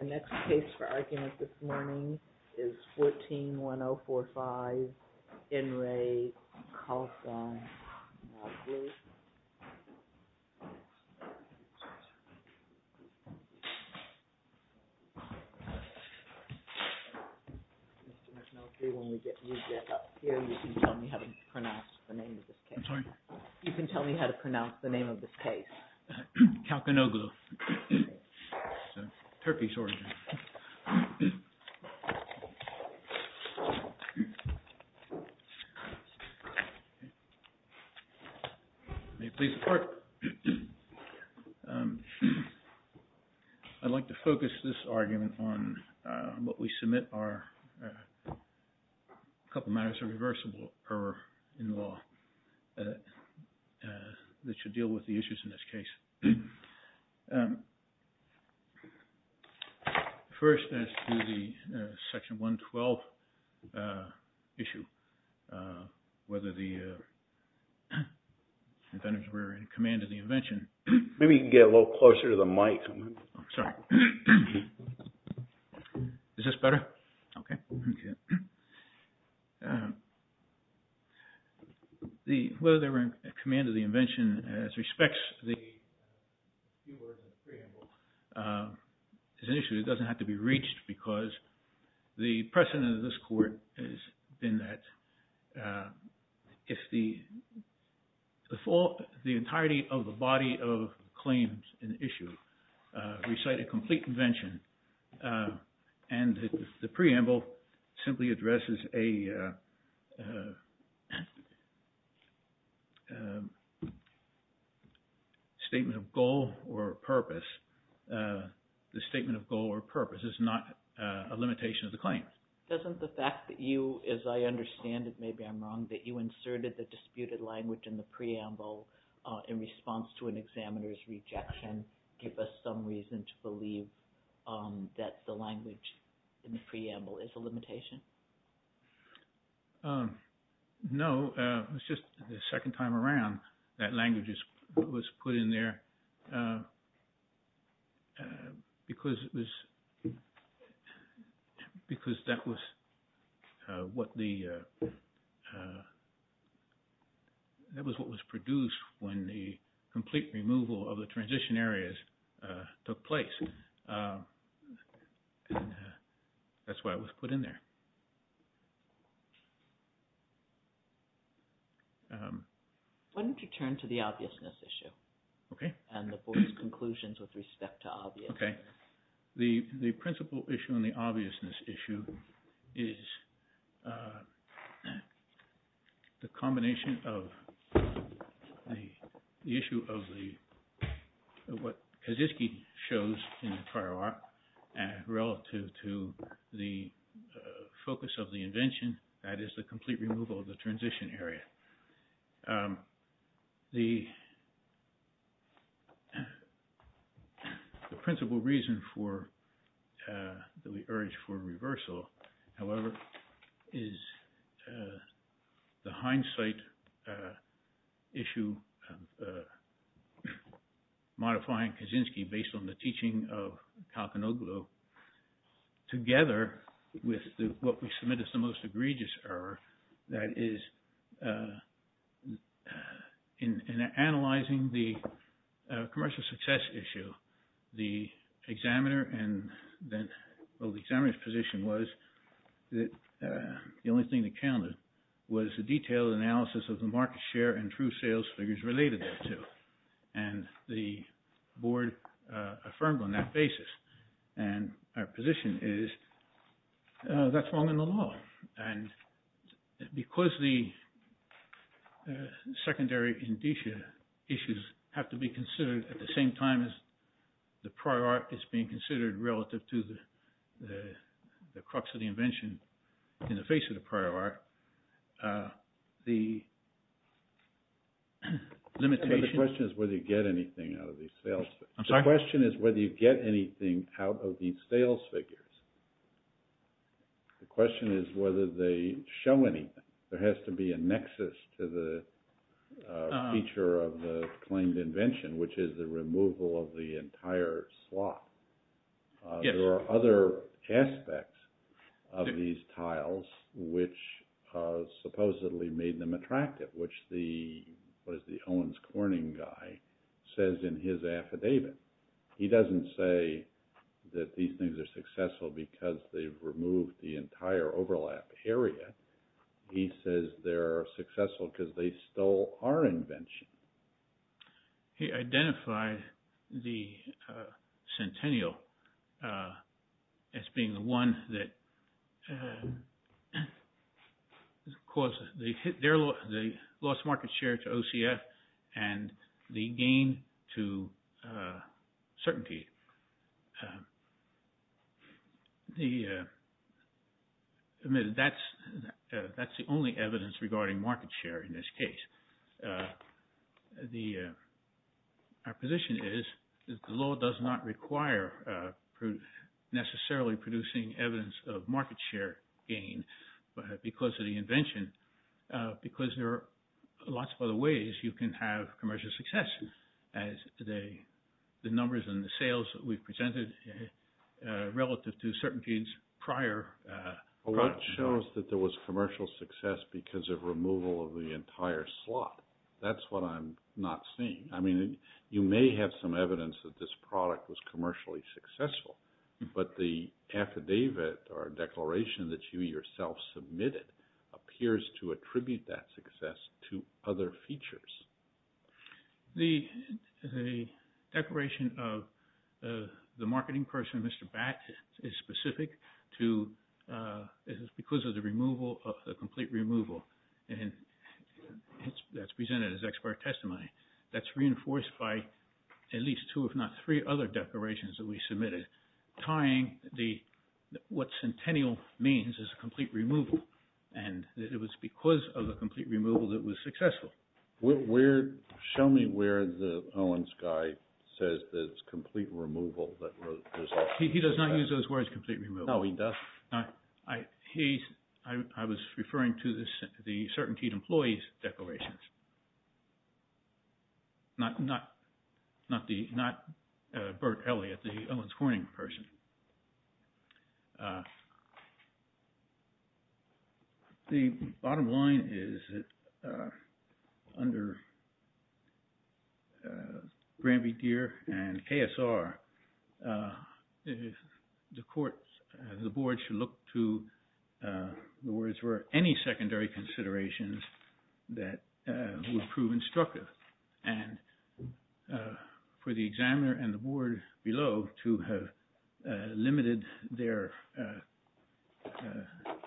The next case for argument this morning is 14-1045 N. Re. Kalkanoglu. Mr. McNulty, when we get you back up here, you can tell me how to pronounce the name of this case. I'm sorry? You can tell me how to pronounce the name of this case. Kalkanoglu. It's a Turkish origin. May it please the court. I'd like to focus this argument on what we submit are a couple matters of reversible error in law that should deal with the issues in this case. First, as to the section 112 issue, whether the inventors were in command of the invention. Maybe you can get a little closer to the mic. Sorry. Is this better? Okay. Whether they were in command of the invention, as respects the few words of the preamble, is an issue that doesn't have to be reached because the precedent of this court has been that if the entirety of the body of claims in issue recite a complete invention and the preamble simply addresses a statement of goal or purpose, the statement of goal or purpose is not a limitation of the claim. Doesn't the fact that you, as I understand it, maybe I'm wrong, that you inserted the disputed language in the preamble in response to an examiner's rejection give us some reason to believe that the language in the preamble is a limitation? No. It's just the second time around that language was put in there because it was – because that was what the – that was what was produced when the complete removal of the transition areas took place. And that's why it was put in there. Why don't you turn to the obviousness issue? Okay. And the board's conclusions with respect to obvious. Okay. The principal issue and the obviousness issue is the combination of the issue of the – what Kaczynski shows in the prior art relative to the focus of the invention, that is, the complete removal of the transition area. The principal reason for – that we urge for reversal, however, is the hindsight issue modifying Kaczynski based on the teaching of Kalkinoglou together with what we submit as the most egregious error, that is, in analyzing the commercial success issue, the examiner and then – well, the examiner's position was that the only thing that counted was a detailed analysis of the market share and true sales figures related thereto. And the board affirmed on that basis. And our position is that's wrong in the law. And because the secondary indicia issues have to be considered at the same time as the prior art is being considered relative to the crux of the invention in the face of the prior art, the limitation – But the question is whether you get anything out of these sales figures. I'm sorry? The question is whether you get anything out of these sales figures. The question is whether they show anything. There has to be a nexus to the feature of the claimed invention, which is the removal of the entire slot. Yes. There are other aspects of these tiles which supposedly made them attractive, which the – what is the Owens Corning guy says in his affidavit. He doesn't say that these things are successful because they've removed the entire overlap area. He says they're successful because they stole our invention. He identified the centennial as being the one that caused the loss of market share to OCF and the gain to certainty. That's the only evidence regarding market share in this case. Our position is that the law does not require necessarily producing evidence of market share gain because of the invention. Because there are lots of other ways you can have commercial success as the numbers and the sales that we've presented relative to certain genes prior. Well, what shows that there was commercial success because of removal of the entire slot? That's what I'm not seeing. I mean, you may have some evidence that this product was commercially successful, but the affidavit or declaration that you yourself submitted appears to attribute that success to other features. The declaration of the marketing person, Mr. Batt, is specific to – is because of the complete removal, and that's presented as expert testimony. That's reinforced by at least two, if not three, other declarations that we submitted tying the – what centennial means is complete removal. And it was because of the complete removal that it was successful. Where – show me where Owen's guy says that it's complete removal that – He does not use those words, complete removal. No, he does? He's – I was referring to the certainty employees declarations, not the – not Bert Elliott, the Owen's Corning person. The bottom line is that under Granby, Deere, and KSR, the court – the board should look to the words for any secondary considerations that would prove instructive. And for the examiner and the board below to have limited their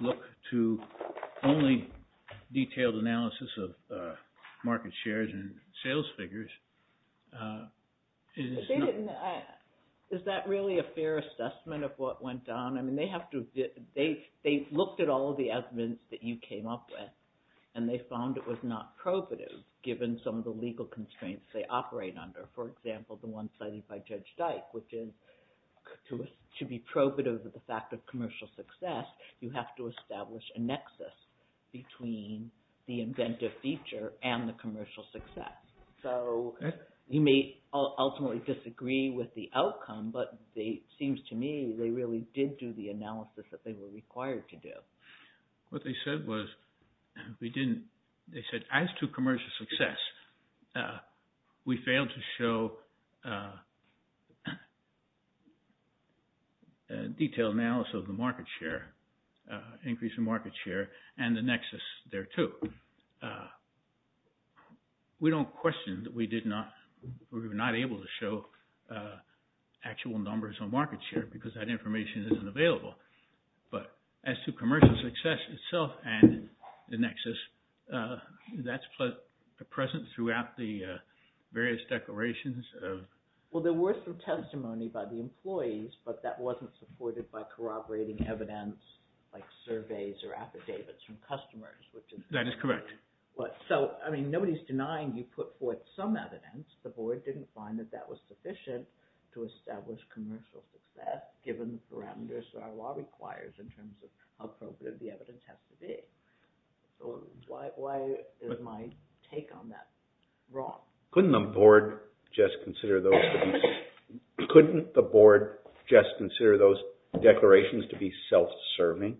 look to only detailed analysis of market shares and sales figures is not – For example, the one cited by Judge Dyke, which is to be probative of the fact of commercial success, you have to establish a nexus between the inventive feature and the commercial success. So you may ultimately disagree with the outcome, but it seems to me they really did do the analysis that they were required to do. What they said was we didn't – they said as to commercial success, we failed to show detailed analysis of the market share, increase in market share, and the nexus thereto. We don't question that we did not – we were not able to show actual numbers on market share because that information isn't available. But as to commercial success itself and the nexus, that's present throughout the various declarations of – Well, there were some testimony by the employees, but that wasn't supported by corroborating evidence like surveys or affidavits from customers, which is – That is correct. So, I mean, nobody's denying you put forth some evidence. The board didn't find that that was sufficient to establish commercial success given the parameters that our law requires in terms of how probative the evidence has to be. So why is my take on that wrong? Couldn't the board just consider those – couldn't the board just consider those declarations to be self-serving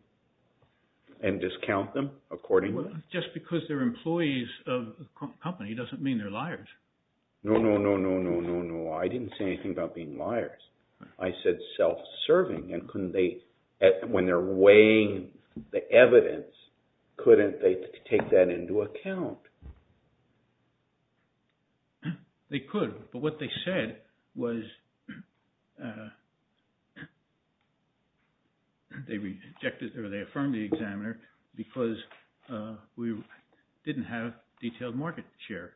and discount them accordingly? Well, just because they're employees of a company doesn't mean they're liars. No, no, no, no, no, no, no. I didn't say anything about being liars. I said self-serving, and couldn't they – when they're weighing the evidence, couldn't they take that into account? They could, but what they said was they rejected or they affirmed the examiner because we didn't have detailed market share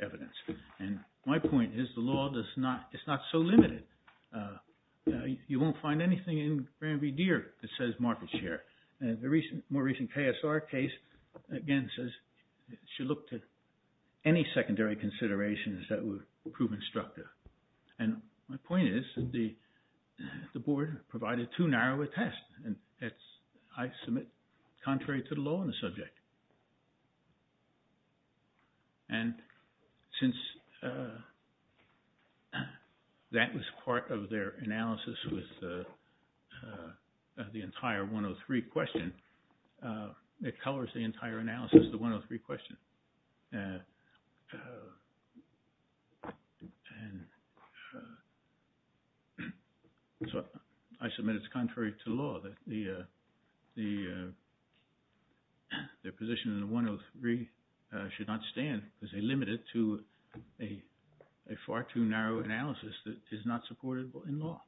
evidence. And my point is the law does not – it's not so limited. You won't find anything in Granby Deer that says market share. The more recent KSR case, again, says it should look to any secondary considerations that would prove instructive. And my point is the board provided too narrow a test, and I submit contrary to the law on the subject. And since that was part of their analysis with the entire 103 question, it colors the entire analysis of the 103 question. And so I submit it's contrary to law that the position in the 103 should not stand because they limit it to a far too narrow analysis that is not supportable in law.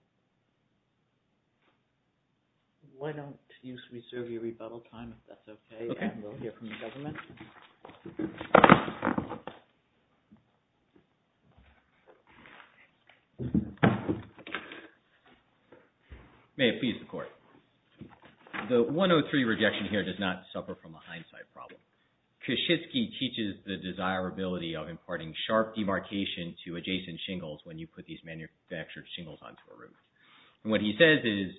Why don't you reserve your rebuttal time if that's okay, and we'll hear from the government. May it please the Court. The 103 rejection here does not suffer from a hindsight problem. Koshitsky teaches the desirability of imparting sharp demarcation to adjacent shingles when you put these manufactured shingles onto a roof. And what he says is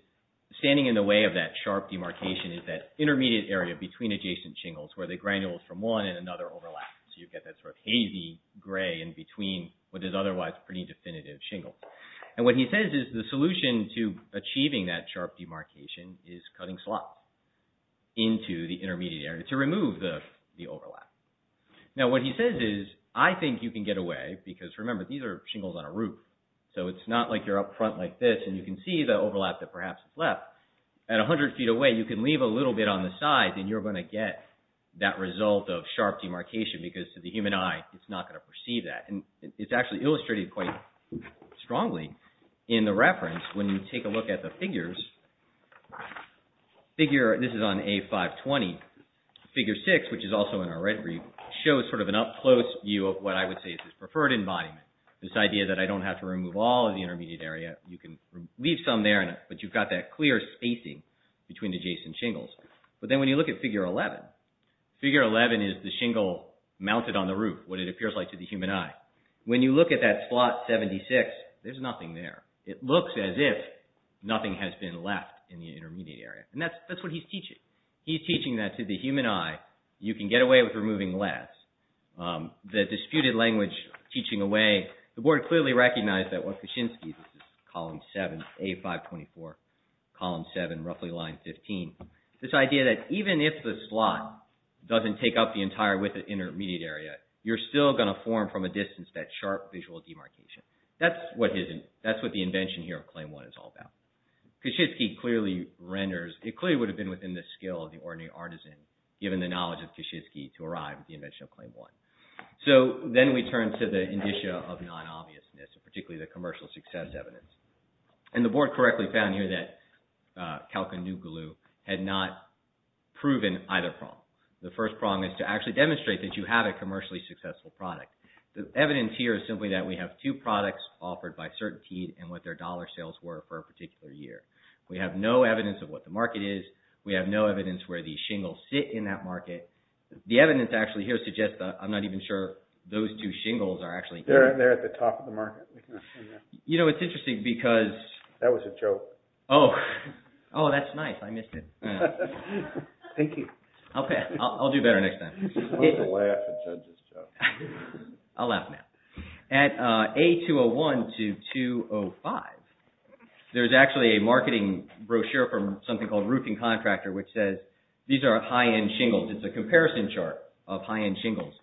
standing in the way of that sharp demarcation is that intermediate area between adjacent shingles where the granules from one and another overlap. So you get that sort of hazy gray in between what is otherwise pretty definitive shingles. And what he says is the solution to achieving that sharp demarcation is cutting slots into the intermediate area to remove the overlap. Now what he says is I think you can get away because remember these are shingles on a roof. So it's not like you're up front like this and you can see the overlap that perhaps is left. At 100 feet away you can leave a little bit on the side and you're going to get that result of sharp demarcation because to the human eye it's not going to perceive that. And it's actually illustrated quite strongly in the reference when you take a look at the figures. This is on A520. Figure 6 which is also in our red brief shows sort of an up close view of what I would say is this preferred embodiment. This idea that I don't have to remove all of the intermediate area. You can leave some there but you've got that clear spacing between adjacent shingles. But then when you look at figure 11, figure 11 is the shingle mounted on the roof, what it appears like to the human eye. When you look at that slot 76, there's nothing there. It looks as if nothing has been left in the intermediate area. And that's what he's teaching. He's teaching that to the human eye you can get away with removing less. The disputed language teaching away. The board clearly recognized that what Kaczynski, this is column 7, A524, column 7, roughly line 15, this idea that even if the slot doesn't take up the entire width of the intermediate area, you're still going to form from a distance that sharp visual demarcation. That's what the invention here of claim 1 is all about. Kaczynski clearly renders, it clearly would have been within the skill of the ordinary artisan given the knowledge of Kaczynski to arrive at the invention of claim 1. So then we turn to the indicia of non-obviousness, particularly the commercial success evidence. And the board correctly found here that Kalkin Nugalu had not proven either prong. The first prong is to actually demonstrate that you have a commercially successful product. The evidence here is simply that we have two products offered by CertainTeed and what their dollar sales were for a particular year. We have no evidence of what the market is. We have no evidence where the shingles sit in that market. The evidence actually here suggests that I'm not even sure those two shingles are actually— They're at the top of the market. You know, it's interesting because— That was a joke. Oh, that's nice. I missed it. Thank you. Okay, I'll do better next time. You're supposed to laugh at judges, Jeff. I'll laugh now. At A201 to 205, there's actually a marketing brochure from something called Roofing Contractor which says these are high-end shingles. It's a comparison chart of high-end shingles.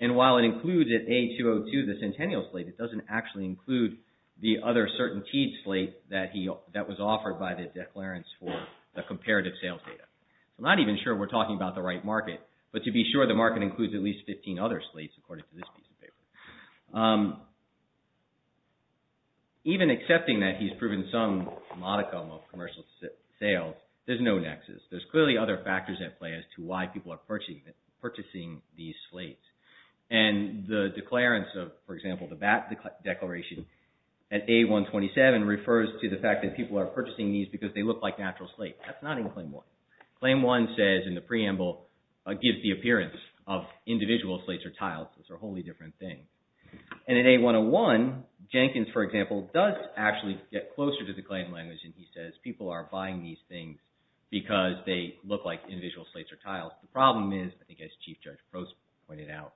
And while it includes at A202 the centennial slate, it doesn't actually include the other CertainTeed slate that was offered by the declarants for the comparative sales data. I'm not even sure we're talking about the right market. But to be sure, the market includes at least 15 other slates according to this piece of paper. Even accepting that he's proven some modicum of commercial sales, there's no nexus. There's clearly other factors at play as to why people are purchasing these slates. And the declarants of, for example, the bat declaration at A127 refers to the fact that people are purchasing these because they look like natural slate. That's not in Claim 1. Claim 1 says in the preamble, gives the appearance of individual slates or tiles. Those are wholly different things. And at A101, Jenkins, for example, does actually get closer to the claim language and he says people are buying these things because they look like individual slates or tiles. The problem is, I think as Chief Judge Post pointed out,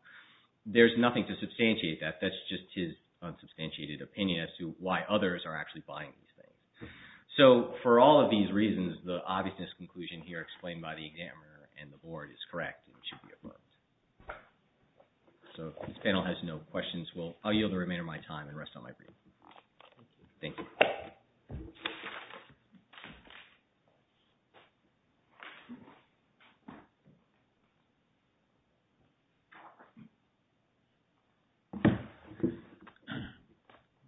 there's nothing to substantiate that. That's just his unsubstantiated opinion as to why others are actually buying these things. So for all of these reasons, the obviousness conclusion here explained by the examiner and the board is correct and should be approved. So if this panel has no questions, I'll yield the remainder of my time and rest on my feet. Thank you.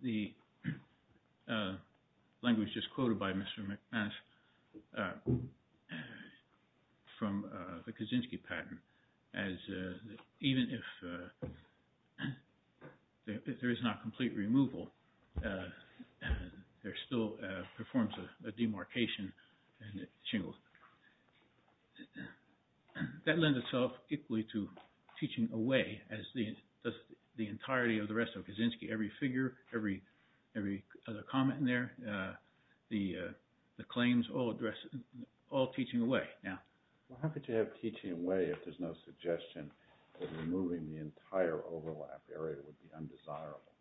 The language just quoted by Mr. McManus from the Kaczynski pattern as even if there is not complete removal, there still performs a demarcation and it shingles. That lends itself equally to teaching away as does the entirety of the rest of Kaczynski. Every figure, every other comment in there, the claims all teaching away now. How could you have teaching away if there's no suggestion that removing the entire overlap area would be undesirable?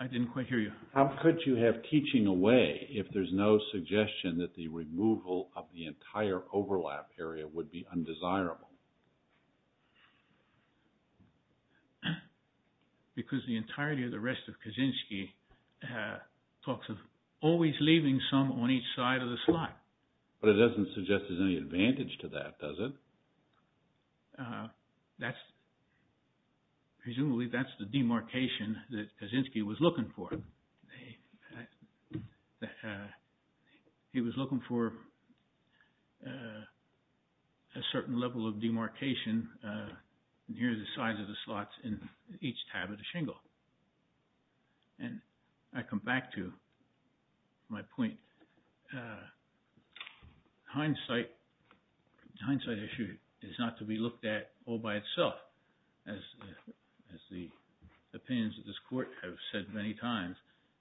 I didn't quite hear you. How could you have teaching away if there's no suggestion that the removal of the entire overlap area would be undesirable? Because the entirety of the rest of Kaczynski talks of always leaving some on each side of the slide. But it doesn't suggest there's any advantage to that, does it? Presumably that's the demarcation that Kaczynski was looking for. He was looking for a certain level of demarcation near the size of the slots in each tab of the shingle. And I come back to my point. Hindsight issue is not to be looked at all by itself. As the opinions of this court have said many times,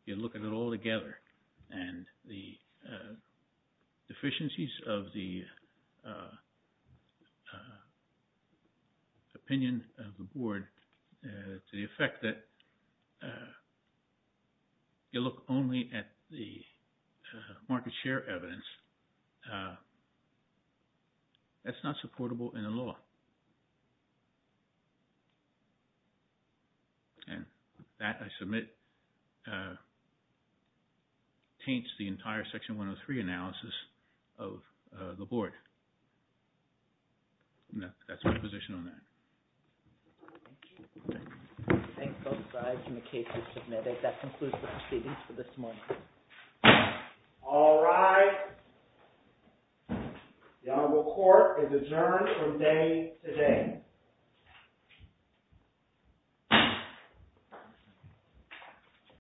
you look at it all together. And the deficiencies of the opinion of the board to the effect that you look only at the market share evidence, that's not supportable in the law. And that, I submit, taints the entire Section 103 analysis of the board. And that's my position on that. Thank you. Thank you. Thank you both sides in the case you submitted. That concludes the proceedings for this morning. All right. The honorable court is adjourned from day today.